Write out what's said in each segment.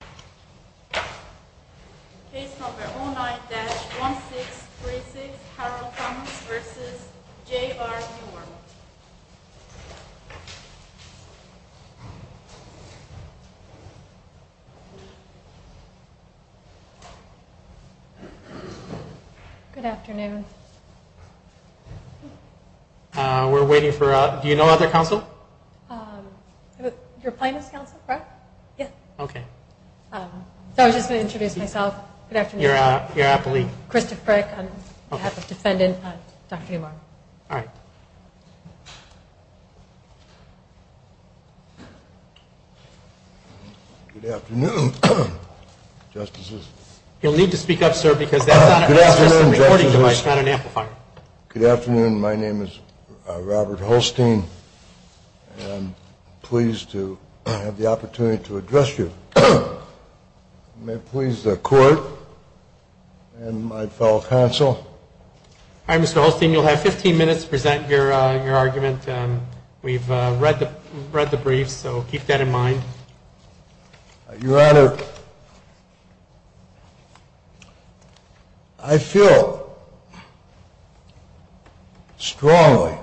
9-1636 Harold Thomas v. J.R. Newark. Good afternoon. We're waiting for, do you know other council? Your plaintiff's council, correct? Yeah. Okay. So I was just going to introduce myself. Good afternoon. You're Appley. Christoph Prick. Okay. On behalf of defendant, Dr. Newmark. All right. Good afternoon, Justices. You'll need to speak up, sir, because that's not an amplifier. Good afternoon, Justices. Good afternoon. My name is Robert Holstein. I'm pleased to have the opportunity to address you. May it please the Court and my fellow council. All right, Mr. Holstein, you'll have 15 minutes to present your argument. We've read the briefs, so keep that in mind. Your Honor, I feel strongly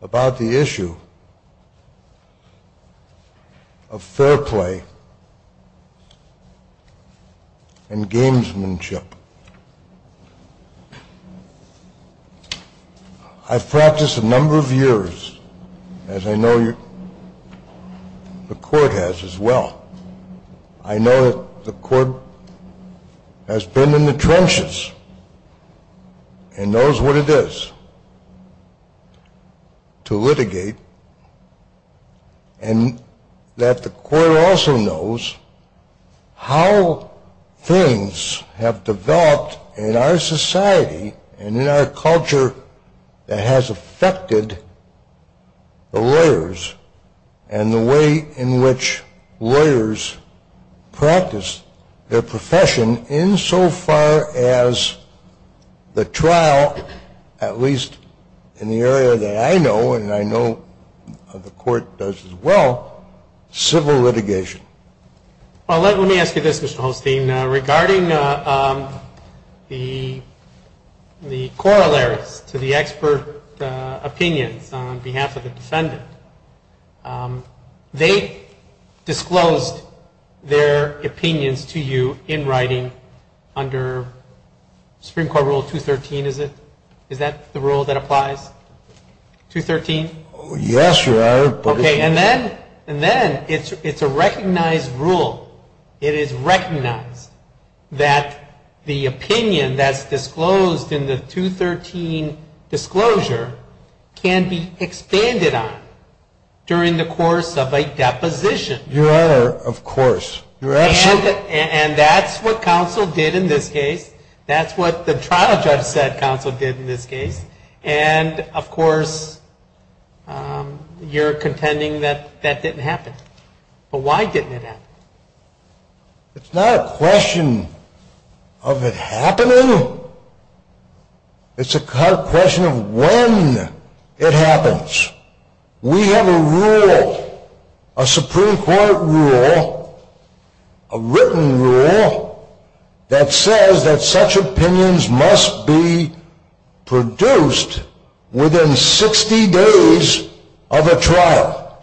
about the issue of fair play and gamesmanship. I've practiced a number of years, as I know the Court has as well. I know that the Court has been in the trenches and knows what it is to litigate and that the Court also knows how things have developed in our society and in our culture that has affected the lawyers and the way in which lawyers practice their profession insofar as the trial, at least in the area that I know and I know the Court does as well, civil litigation. Well, let me ask you this, Mr. Holstein. Regarding the corollaries to the expert opinions on behalf of the defendant, they disclosed their opinions to you in writing under Supreme Court Rule 213, is it? Is that the rule that applies? 213? Yes, Your Honor. Okay, and then it's a recognized rule. It is recognized that the opinion that's disclosed in the 213 disclosure can be expanded on during the course of a deposition. Your Honor, of course. And that's what counsel did in this case. That's what the trial judge said counsel did in this case. And, of course, you're contending that that didn't happen. But why didn't it happen? It's not a question of it happening. It's a question of when it happens. We have a rule, a Supreme Court rule, a written rule, that says that such opinions must be produced within 60 days of a trial.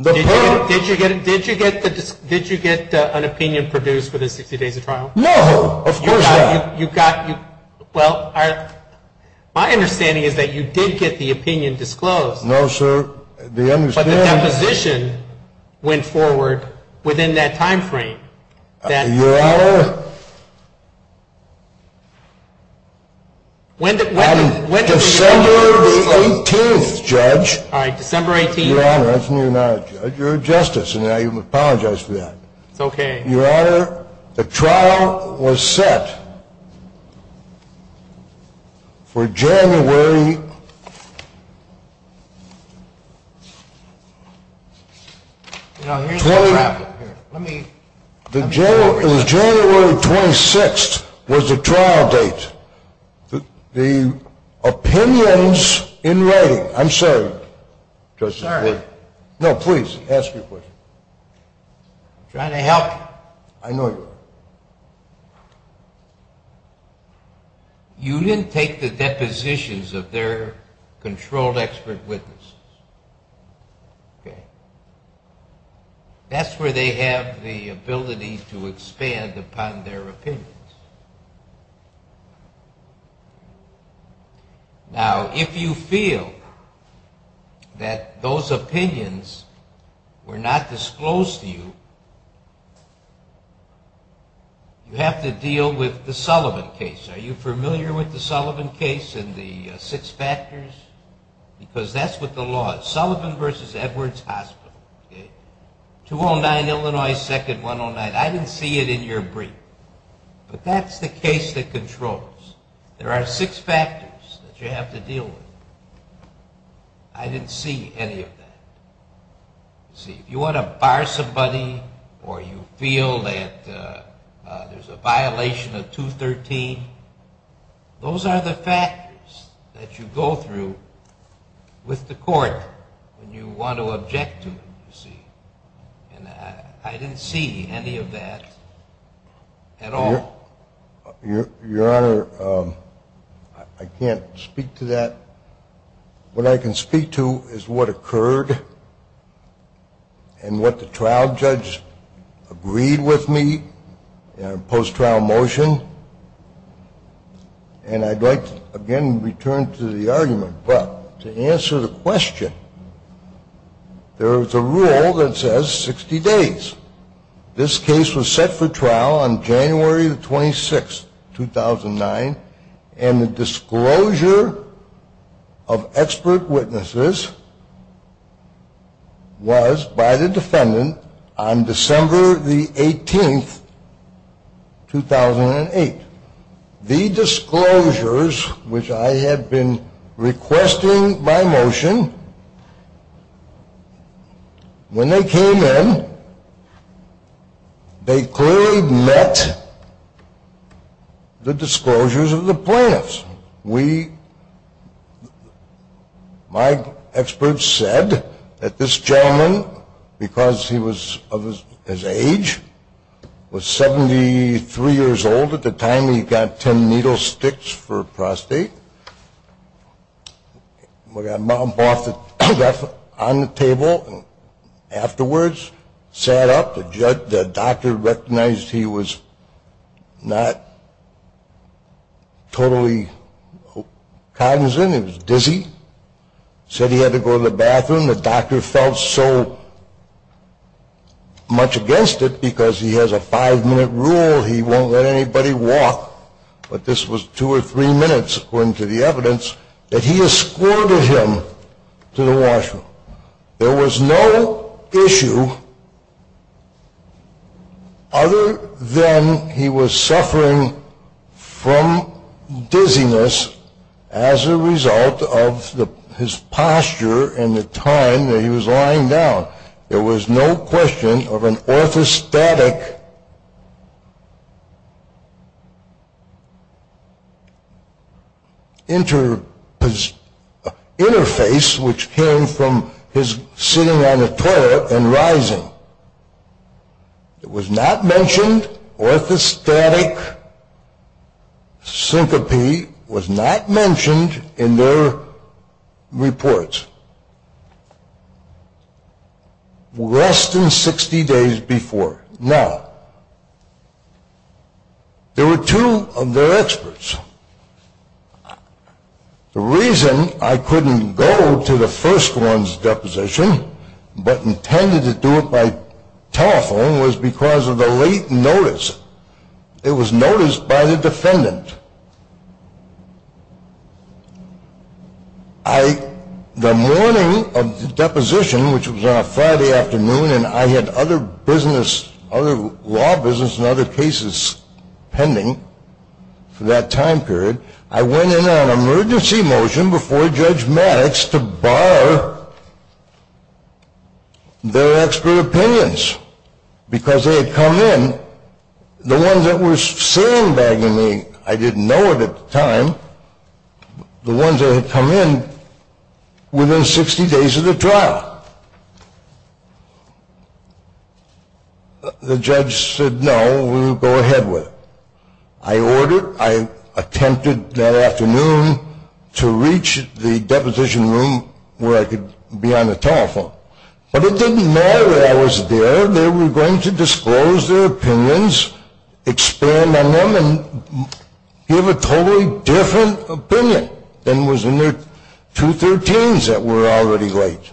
Did you get an opinion produced within 60 days of trial? No, of course not. Well, my understanding is that you did get the opinion disclosed. No, sir. But the deposition went forward within that time frame. Your Honor, I'm December the 18th, Judge. All right, December 18th. Your Honor, you're a justice, and I apologize for that. It's okay. Your Honor, the trial was set for January 26th was the trial date. The opinions in writing, I'm sorry, Judge. Sorry? No, please, ask me a question. I'm trying to help you. I know you are. You didn't take the depositions of their controlled expert witnesses. That's where they have the ability to expand upon their opinions. Now, if you feel that those opinions were not disclosed to you, you have to deal with the Sullivan case. Are you familiar with the Sullivan case and the six factors? Because that's what the law is, Sullivan v. Edwards Hospital. 209 Illinois 2nd, 109. I didn't see it in your brief. But that's the case that controls. There are six factors that you have to deal with. I didn't see any of that. You see, if you want to bar somebody or you feel that there's a violation of 213, those are the factors that you go through with the court when you want to object to them, you see. And I didn't see any of that at all. Your Honor, I can't speak to that. What I can speak to is what occurred and what the trial judge agreed with me in a post-trial motion. And I'd like, again, to return to the argument. But to answer the question, there's a rule that says 60 days. This case was set for trial on January 26, 2009, and the disclosure of expert witnesses was by the defendant on December 18, 2008. The disclosures, which I had been requesting by motion, when they came in, they clearly met the disclosures of the plaintiffs. We, my experts said that this gentleman, because he was of his age, was 73 years old. At the time, he got ten needle sticks for prostate. He got on the table and afterwards sat up. The doctor recognized he was not totally cognizant. He was dizzy. Said he had to go to the bathroom. The doctor felt so much against it because he has a five-minute rule. He won't let anybody walk. But this was two or three minutes, according to the evidence, that he escorted him to the washroom. There was no issue other than he was suffering from dizziness as a result of his posture and the time that he was lying down. There was no question of an orthostatic interface which came from his sitting on the toilet and rising. It was not mentioned, orthostatic syncope was not mentioned in their reports. Less than 60 days before. Now, there were two of their experts. The reason I couldn't go to the first one's deposition but intended to do it by telephone was because of the late notice. It was noticed by the defendant. The morning of the deposition, which was on a Friday afternoon, and I had other business, other law business and other cases pending for that time period, I went in on an emergency motion before Judge Maddox to bar their expert opinions because they had come in. The ones that were sealing bagging me, I didn't know it at the time, the ones that had come in within 60 days of the trial. The judge said, no, we'll go ahead with it. I ordered, I attempted that afternoon to reach the deposition room where I could be on the telephone. But it didn't matter that I was there. They were going to disclose their opinions, expand on them, and give a totally different opinion than was in their 213s that were already late.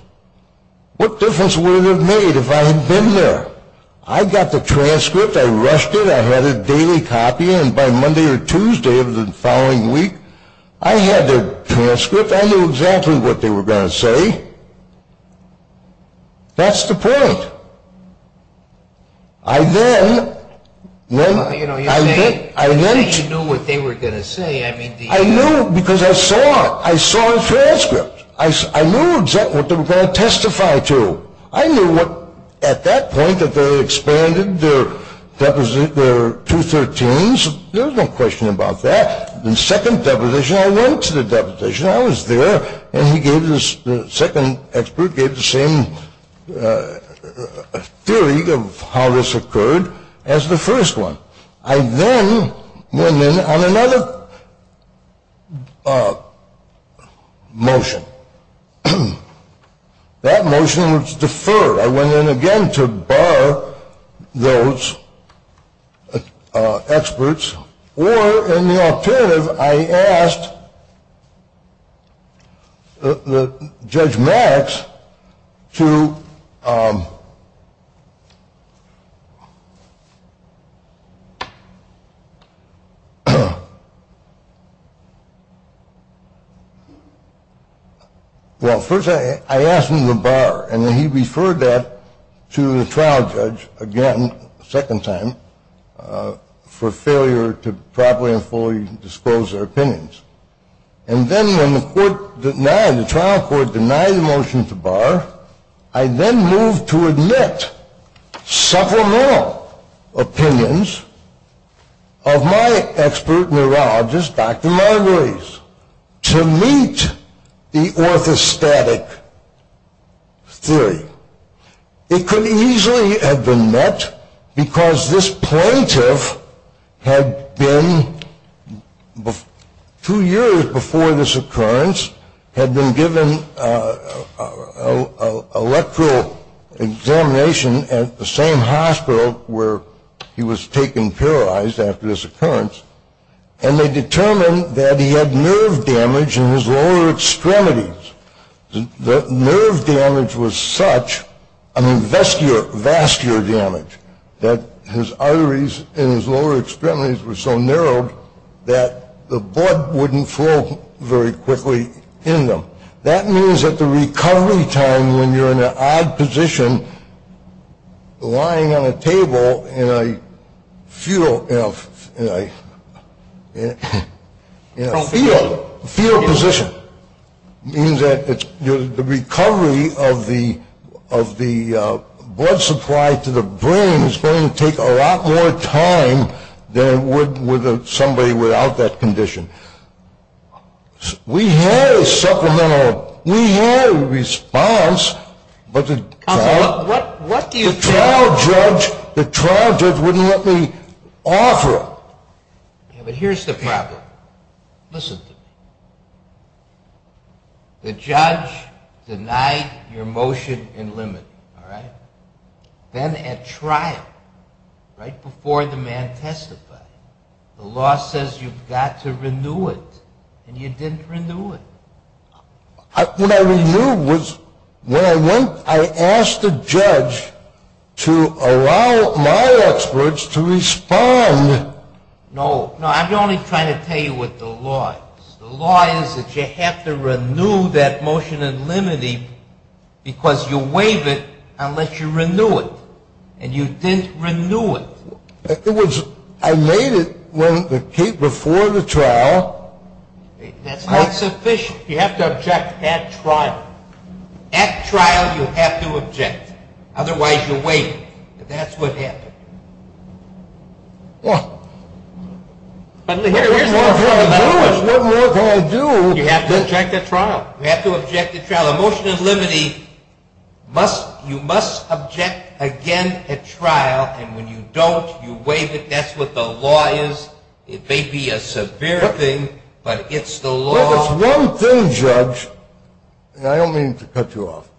What difference would it have made if I had been there? I got the transcript. I rushed it. I had a daily copy. And by Monday or Tuesday of the following week, I had their transcript. I knew exactly what they were going to say. That's the point. I then – You know, you say you knew what they were going to say. I knew because I saw it. I saw the transcript. I knew exactly what they were going to testify to. I knew at that point that they had expanded their 213s. There was no question about that. The second deposition, I went to the deposition. I was there, and the second expert gave the same theory of how this occurred as the first one. I then went in on another motion. That motion was deferred. I went in again to bar those experts. Or in the alternative, I asked Judge Max to – well, first I asked him to bar, and then he referred that to the trial judge again, a second time, for failure to properly and fully disclose their opinions. And then when the trial court denied the motion to bar, I then moved to admit supplemental opinions of my expert neurologist, Dr. Margulies, to meet the orthostatic theory. It could easily have been met because this plaintiff had been, two years before this occurrence, had been given an electoral examination at the same hospital where he was taken paralyzed after this occurrence, and they determined that he had nerve damage in his lower extremities. The nerve damage was such, I mean, vascular damage, that his arteries in his lower extremities were so narrowed that the blood wouldn't flow very quickly in them. That means that the recovery time when you're in an odd position, lying on a table in a fetal position, means that the recovery of the blood supply to the brain is going to take a lot more time than would somebody without that condition. We had a supplemental, we had a response, but the trial judge wouldn't let me offer it. Yeah, but here's the problem. Listen to me. The judge denied your motion and limited it, all right? Then at trial, right before the man testified, the law says you've got to renew it, and you didn't renew it. What I renewed was, when I went, I asked the judge to allow my experts to respond. No, no, I'm only trying to tell you what the law is. The law is that you have to renew that motion and limit it because you waive it unless you renew it, and you didn't renew it. I made it before the trial. That's not sufficient. You have to object at trial. At trial, you have to object. Otherwise, you're waiting, and that's what happened. There's no more for me to do. You have to object at trial. Well, a motion in limited, you must object again at trial, and when you don't, you waive it. That's what the law is. It may be a severe thing, but it's the law. Look, it's one thing, judge, and I don't mean to cut you off.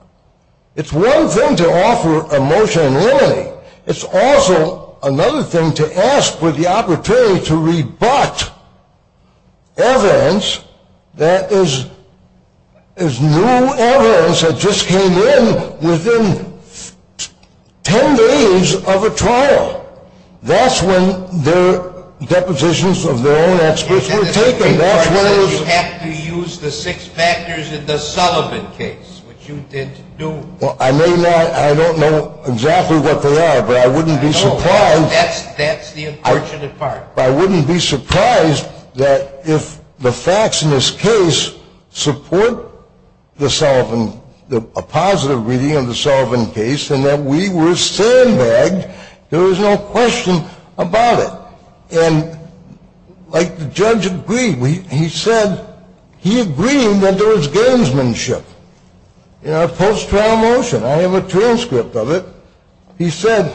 It's one thing to offer a motion in limited. It's also another thing to ask for the opportunity to rebut evidence that is new evidence that just came in within 10 days of a trial. That's when the depositions of their own experts were taken. You have to use the six factors in the Sullivan case, which you didn't do. Well, I may not, I don't know exactly what they are, but I wouldn't be surprised. That's the unfortunate part. I wouldn't be surprised that if the facts in this case support the Sullivan, a positive reading of the Sullivan case, and that we were sandbagged, there was no question about it. Like the judge agreed, he said he agreed that there was gamesmanship in our post-trial motion. I have a transcript of it. He said,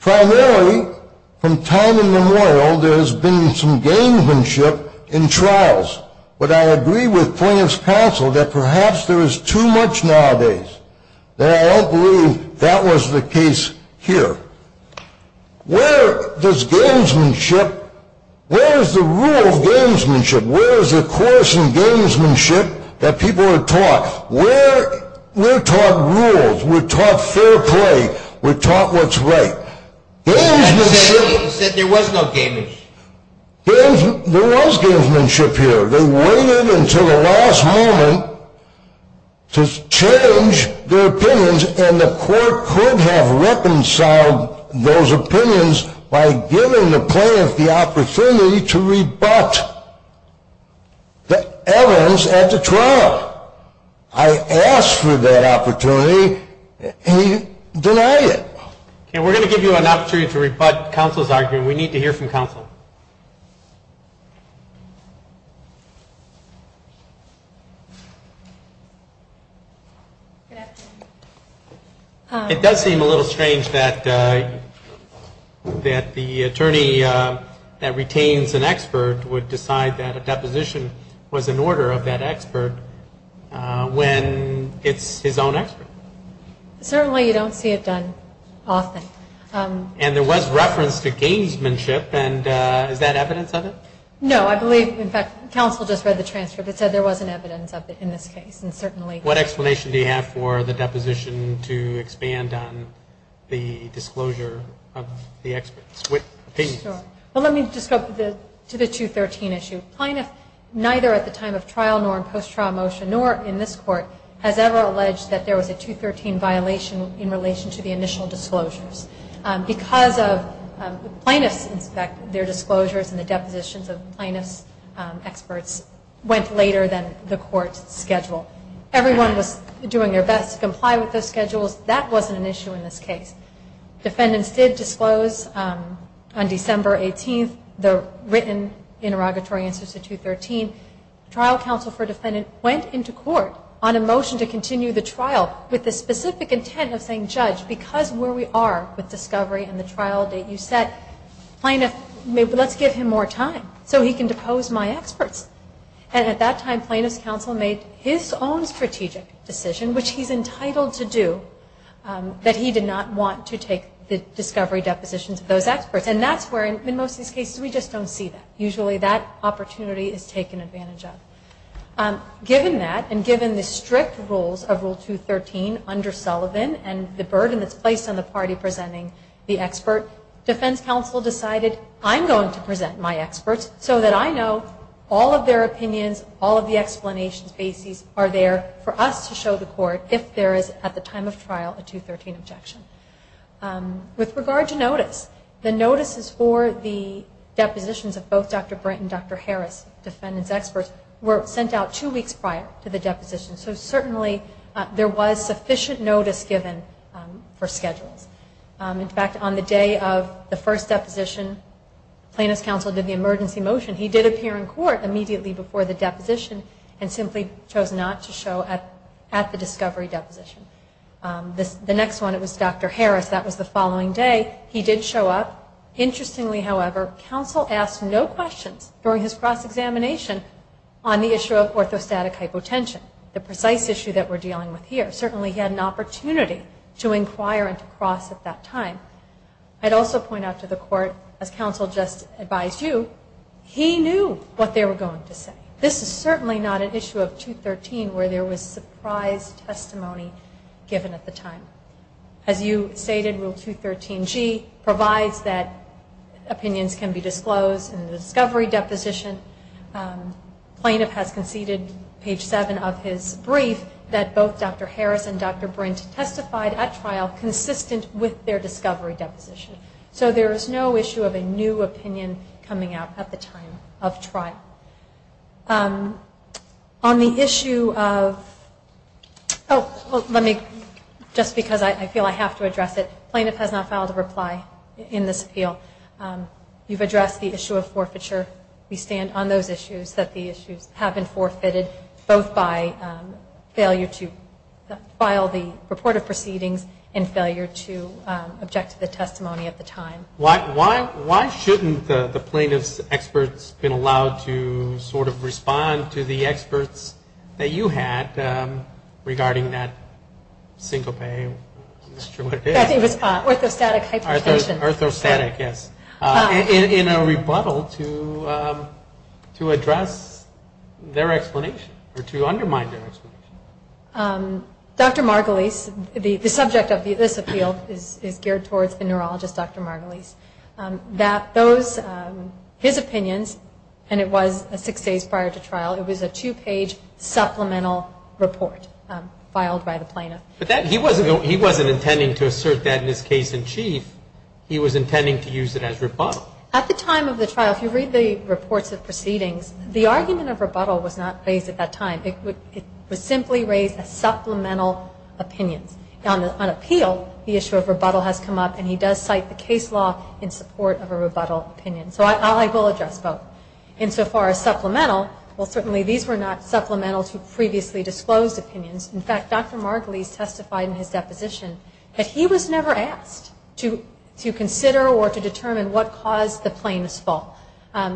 primarily, from time immemorial, there has been some gamesmanship in trials, but I agree with plaintiff's counsel that perhaps there is too much nowadays. I don't believe that was the case here. Where does gamesmanship, where is the rule of gamesmanship? Where is the course in gamesmanship that people are taught? We're taught rules. We're taught fair play. We're taught what's right. I'm saying he said there was no gamesmanship. There was gamesmanship here. They waited until the last moment to change their opinions, and the court could have reconciled those opinions by giving the plaintiff the opportunity to rebut the evidence at the trial. I asked for that opportunity, and he denied it. We're going to give you an opportunity to rebut counsel's argument. We need to hear from counsel. It does seem a little strange that the attorney that retains an expert would decide that a deposition was an order of that expert when it's his own expert. Certainly you don't see it done often. There was reference to gamesmanship. Is that evidence of it? No. I believe, in fact, counsel just read the transcript. It said there wasn't evidence of it in this case. What explanation do you have for the deposition to expand on the disclosure of the expert's opinions? Let me just go to the 213 issue. Neither at the time of trial, nor in post-trial motion, nor in this court, has ever alleged that there was a 213 violation in relation to the initial disclosures. Because plaintiffs inspect their disclosures and the depositions of plaintiffs' experts went later than the court's schedule. Everyone was doing their best to comply with those schedules. That wasn't an issue in this case. Defendants did disclose, on December 18th, the written interrogatory answer to 213. Trial counsel for defendant went into court on a motion to continue the trial with the specific intent of saying, Judge, because of where we are with discovery and the trial date you set, let's give him more time so he can depose my experts. And at that time, plaintiff's counsel made his own strategic decision, which he's entitled to do, that he did not want to take the discovery depositions of those experts. And that's where, in most of these cases, we just don't see that. Usually that opportunity is taken advantage of. Given that, and given the strict rules of Rule 213 under Sullivan, and the burden that's placed on the party presenting the expert, defense counsel decided, I'm going to present my experts so that I know all of their opinions, all of the explanations, bases are there for us to show the court if there is, at the time of trial, a 213 objection. With regard to notice, the notices for the depositions of both Dr. Brent and Dr. Harris, defendant's experts, were sent out two weeks prior to the deposition. So certainly there was sufficient notice given for schedules. In fact, on the day of the first deposition, plaintiff's counsel did the emergency motion. He did appear in court immediately before the deposition and simply chose not to show at the discovery deposition. The next one, it was Dr. Harris. That was the following day. He did show up. Interestingly, however, counsel asked no questions during his cross-examination on the issue of orthostatic hypotension, the precise issue that we're dealing with here. Certainly he had an opportunity to inquire and to cross at that time. I'd also point out to the court, as counsel just advised you, he knew what they were going to say. This is certainly not an issue of 213 where there was surprise testimony given at the time. As you stated, Rule 213G provides that opinions can be disclosed in the discovery deposition. Plaintiff has conceded, page 7 of his brief, that both Dr. Harris and Dr. Brint testified at trial consistent with their discovery deposition. So there is no issue of a new opinion coming out at the time of trial. On the issue of, just because I feel I have to address it, plaintiff has not filed a reply in this appeal. You've addressed the issue of forfeiture. We stand on those issues, that the issues have been forfeited, both by failure to file the report of proceedings and failure to object to the testimony at the time. Why shouldn't the plaintiff's experts been allowed to sort of respond to the experts that you had regarding that single pay? I think it was orthostatic hypertension. Orthostatic, yes. In a rebuttal to address their explanation or to undermine their explanation. Dr. Margulies, the subject of this appeal is geared towards the neurologist, Dr. Margulies, that those, his opinions, and it was six days prior to trial, it was a two-page supplemental report filed by the plaintiff. But he wasn't intending to assert that in his case in chief. He was intending to use it as rebuttal. At the time of the trial, if you read the reports of proceedings, the argument of rebuttal was not raised at that time. It was simply raised as supplemental opinions. On appeal, the issue of rebuttal has come up, and he does cite the case law in support of a rebuttal opinion. So I will address both. Insofar as supplemental, well, certainly these were not supplemental to previously disclosed opinions. In fact, Dr. Margulies testified in his deposition that he was never asked to consider or to determine what caused the plaintiff's fault.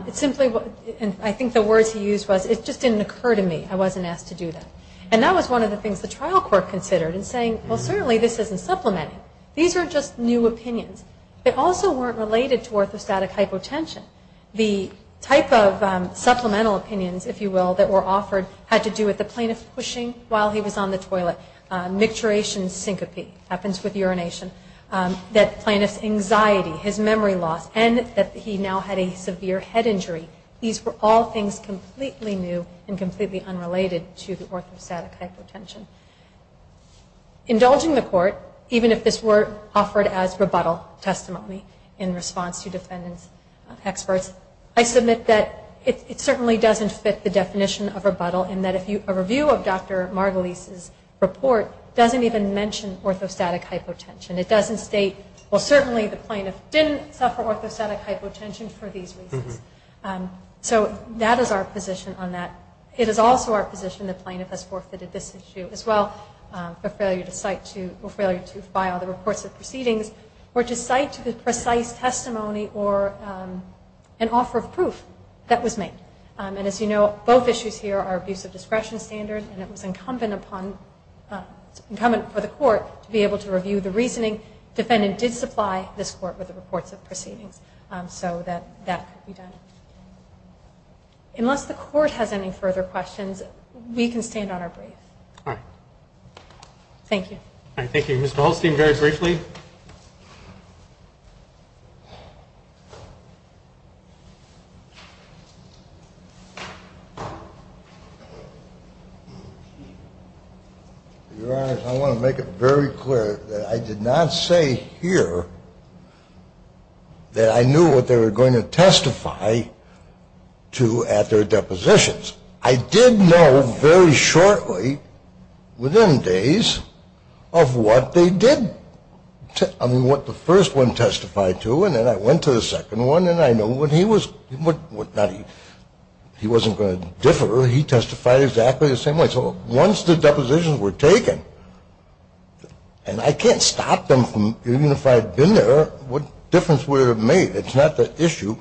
It simply was, and I think the words he used was, it just didn't occur to me. I wasn't asked to do that. And that was one of the things the trial court considered in saying, well, certainly this isn't supplementing. These are just new opinions. They also weren't related to orthostatic hypotension. The type of supplemental opinions, if you will, that were offered had to do with the plaintiff pushing while he was on the toilet, micturation syncope happens with urination, that plaintiff's anxiety, his memory loss, and that he now had a severe head injury. These were all things completely new and completely unrelated to the orthostatic hypotension. Indulging the court, even if this were offered as rebuttal testimony in response to defendants' experts, I submit that it certainly doesn't fit the definition of rebuttal in that a review of Dr. Margulies' report doesn't even mention orthostatic hypotension. It doesn't state, well, certainly the plaintiff didn't suffer orthostatic hypotension for these reasons. So that is our position on that. It is also our position the plaintiff has forfeited this issue as well, a failure to cite or failure to file the reports of proceedings or to cite to the precise testimony or an offer of proof that was made. And as you know, both issues here are abuse of discretion standards, and it was incumbent for the court to be able to review the reasoning. The defendant did supply this court with the reports of proceedings, so that could be done. Unless the court has any further questions, we can stand on our brief. All right. Thank you. All right, thank you. Mr. Holstein, very briefly. Your Honor, I want to make it very clear that I did not say here that I knew what they were going to testify to at their depositions. I did know very shortly, within days, of what they did. I mean, what the first one testified to, and then I went to the second one, and I know what he was going to differ. He testified exactly the same way. So once the depositions were taken, and I can't stop them, even if I had been there, what difference would it have made? It's not the issue.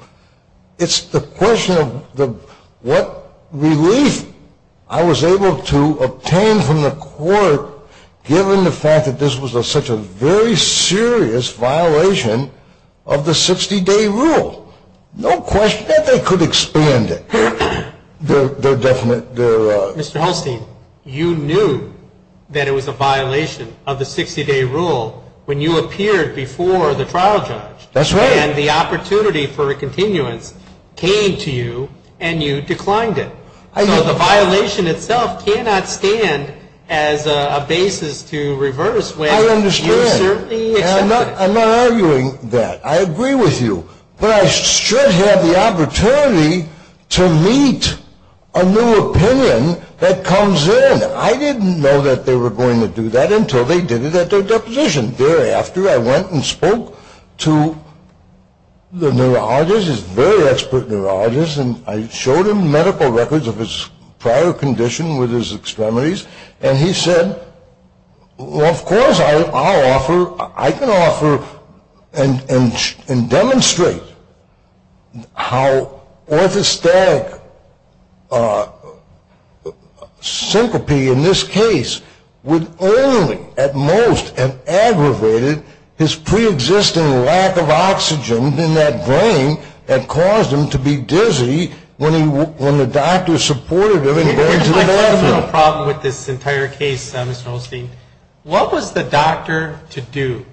It's the question of what relief I was able to obtain from the court, given the fact that this was such a very serious violation of the 60-day rule. No question that they could expand it. Mr. Holstein, you knew that it was a violation of the 60-day rule when you appeared before the trial judge. That's right. And the opportunity for a continuance came to you, and you declined it. So the violation itself cannot stand as a basis to reverse when you certainly accepted it. I understand, and I'm not arguing that. I agree with you. But I should have the opportunity to meet a new opinion that comes in. I didn't know that they were going to do that until they did it at their deposition. Thereafter, I went and spoke to the neurologist, his very expert neurologist, and I showed him medical records of his prior condition with his extremities, and he said, well, of course I can offer and demonstrate how orthostatic syncope in this case would only at most have aggravated his preexisting lack of oxygen in that brain that caused him to be dizzy when the doctor supported him in going to the bathroom. I have a problem with this entire case, Mr. Holstein. What was the doctor to do?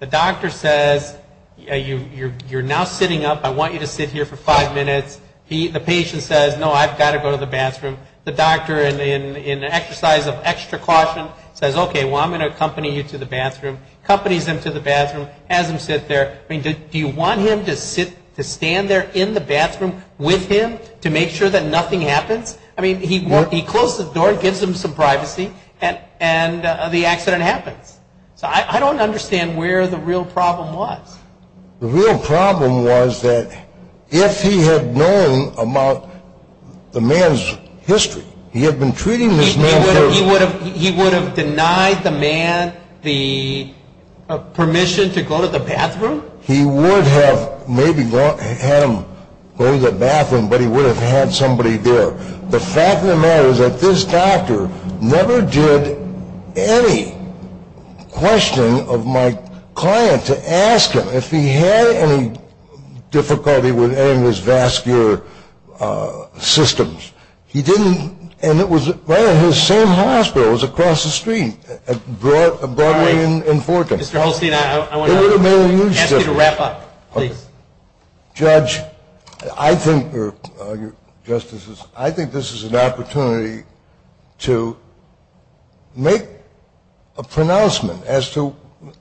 The doctor says, you're now sitting up. I want you to sit here for five minutes. The patient says, no, I've got to go to the bathroom. The doctor, in an exercise of extra caution, says, okay, well, I'm going to accompany you to the bathroom, accompanies him to the bathroom, has him sit there. Do you want him to stand there in the bathroom with him to make sure that nothing happens? I mean, he closed the door, gives him some privacy, and the accident happens. So I don't understand where the real problem was. The real problem was that if he had known about the man's history, he had been treating this man for... He would have denied the man the permission to go to the bathroom? He would have maybe had him go to the bathroom, but he would have had somebody there. The fact of the matter is that this doctor never did any questioning of my client to ask him if he had any difficulty with any of his vascular systems. He didn't, and it was right at his same hospital. It was across the street, Broadway and Forton. Mr. Holstein, I want to ask you to wrap up, please. Judge, I think this is an opportunity to make a pronouncement as to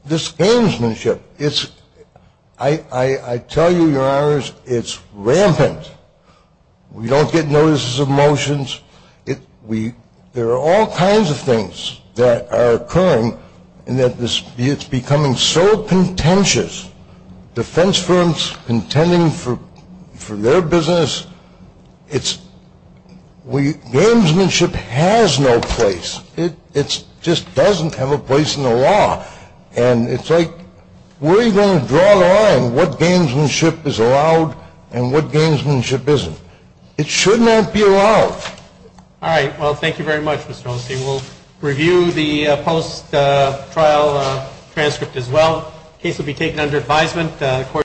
this gamesmanship. I tell you, Your Honors, it's rampant. We don't get notices of motions. There are all kinds of things that are occurring, and it's becoming so contentious. Defense firms contending for their business. Gamesmanship has no place. It just doesn't have a place in the law. And it's like, where are you going to draw the line? What gamesmanship is allowed and what gamesmanship isn't? It should not be allowed. All right. Well, thank you very much, Mr. Holstein. We'll review the post-trial transcript as well. The case will be taken under advisement.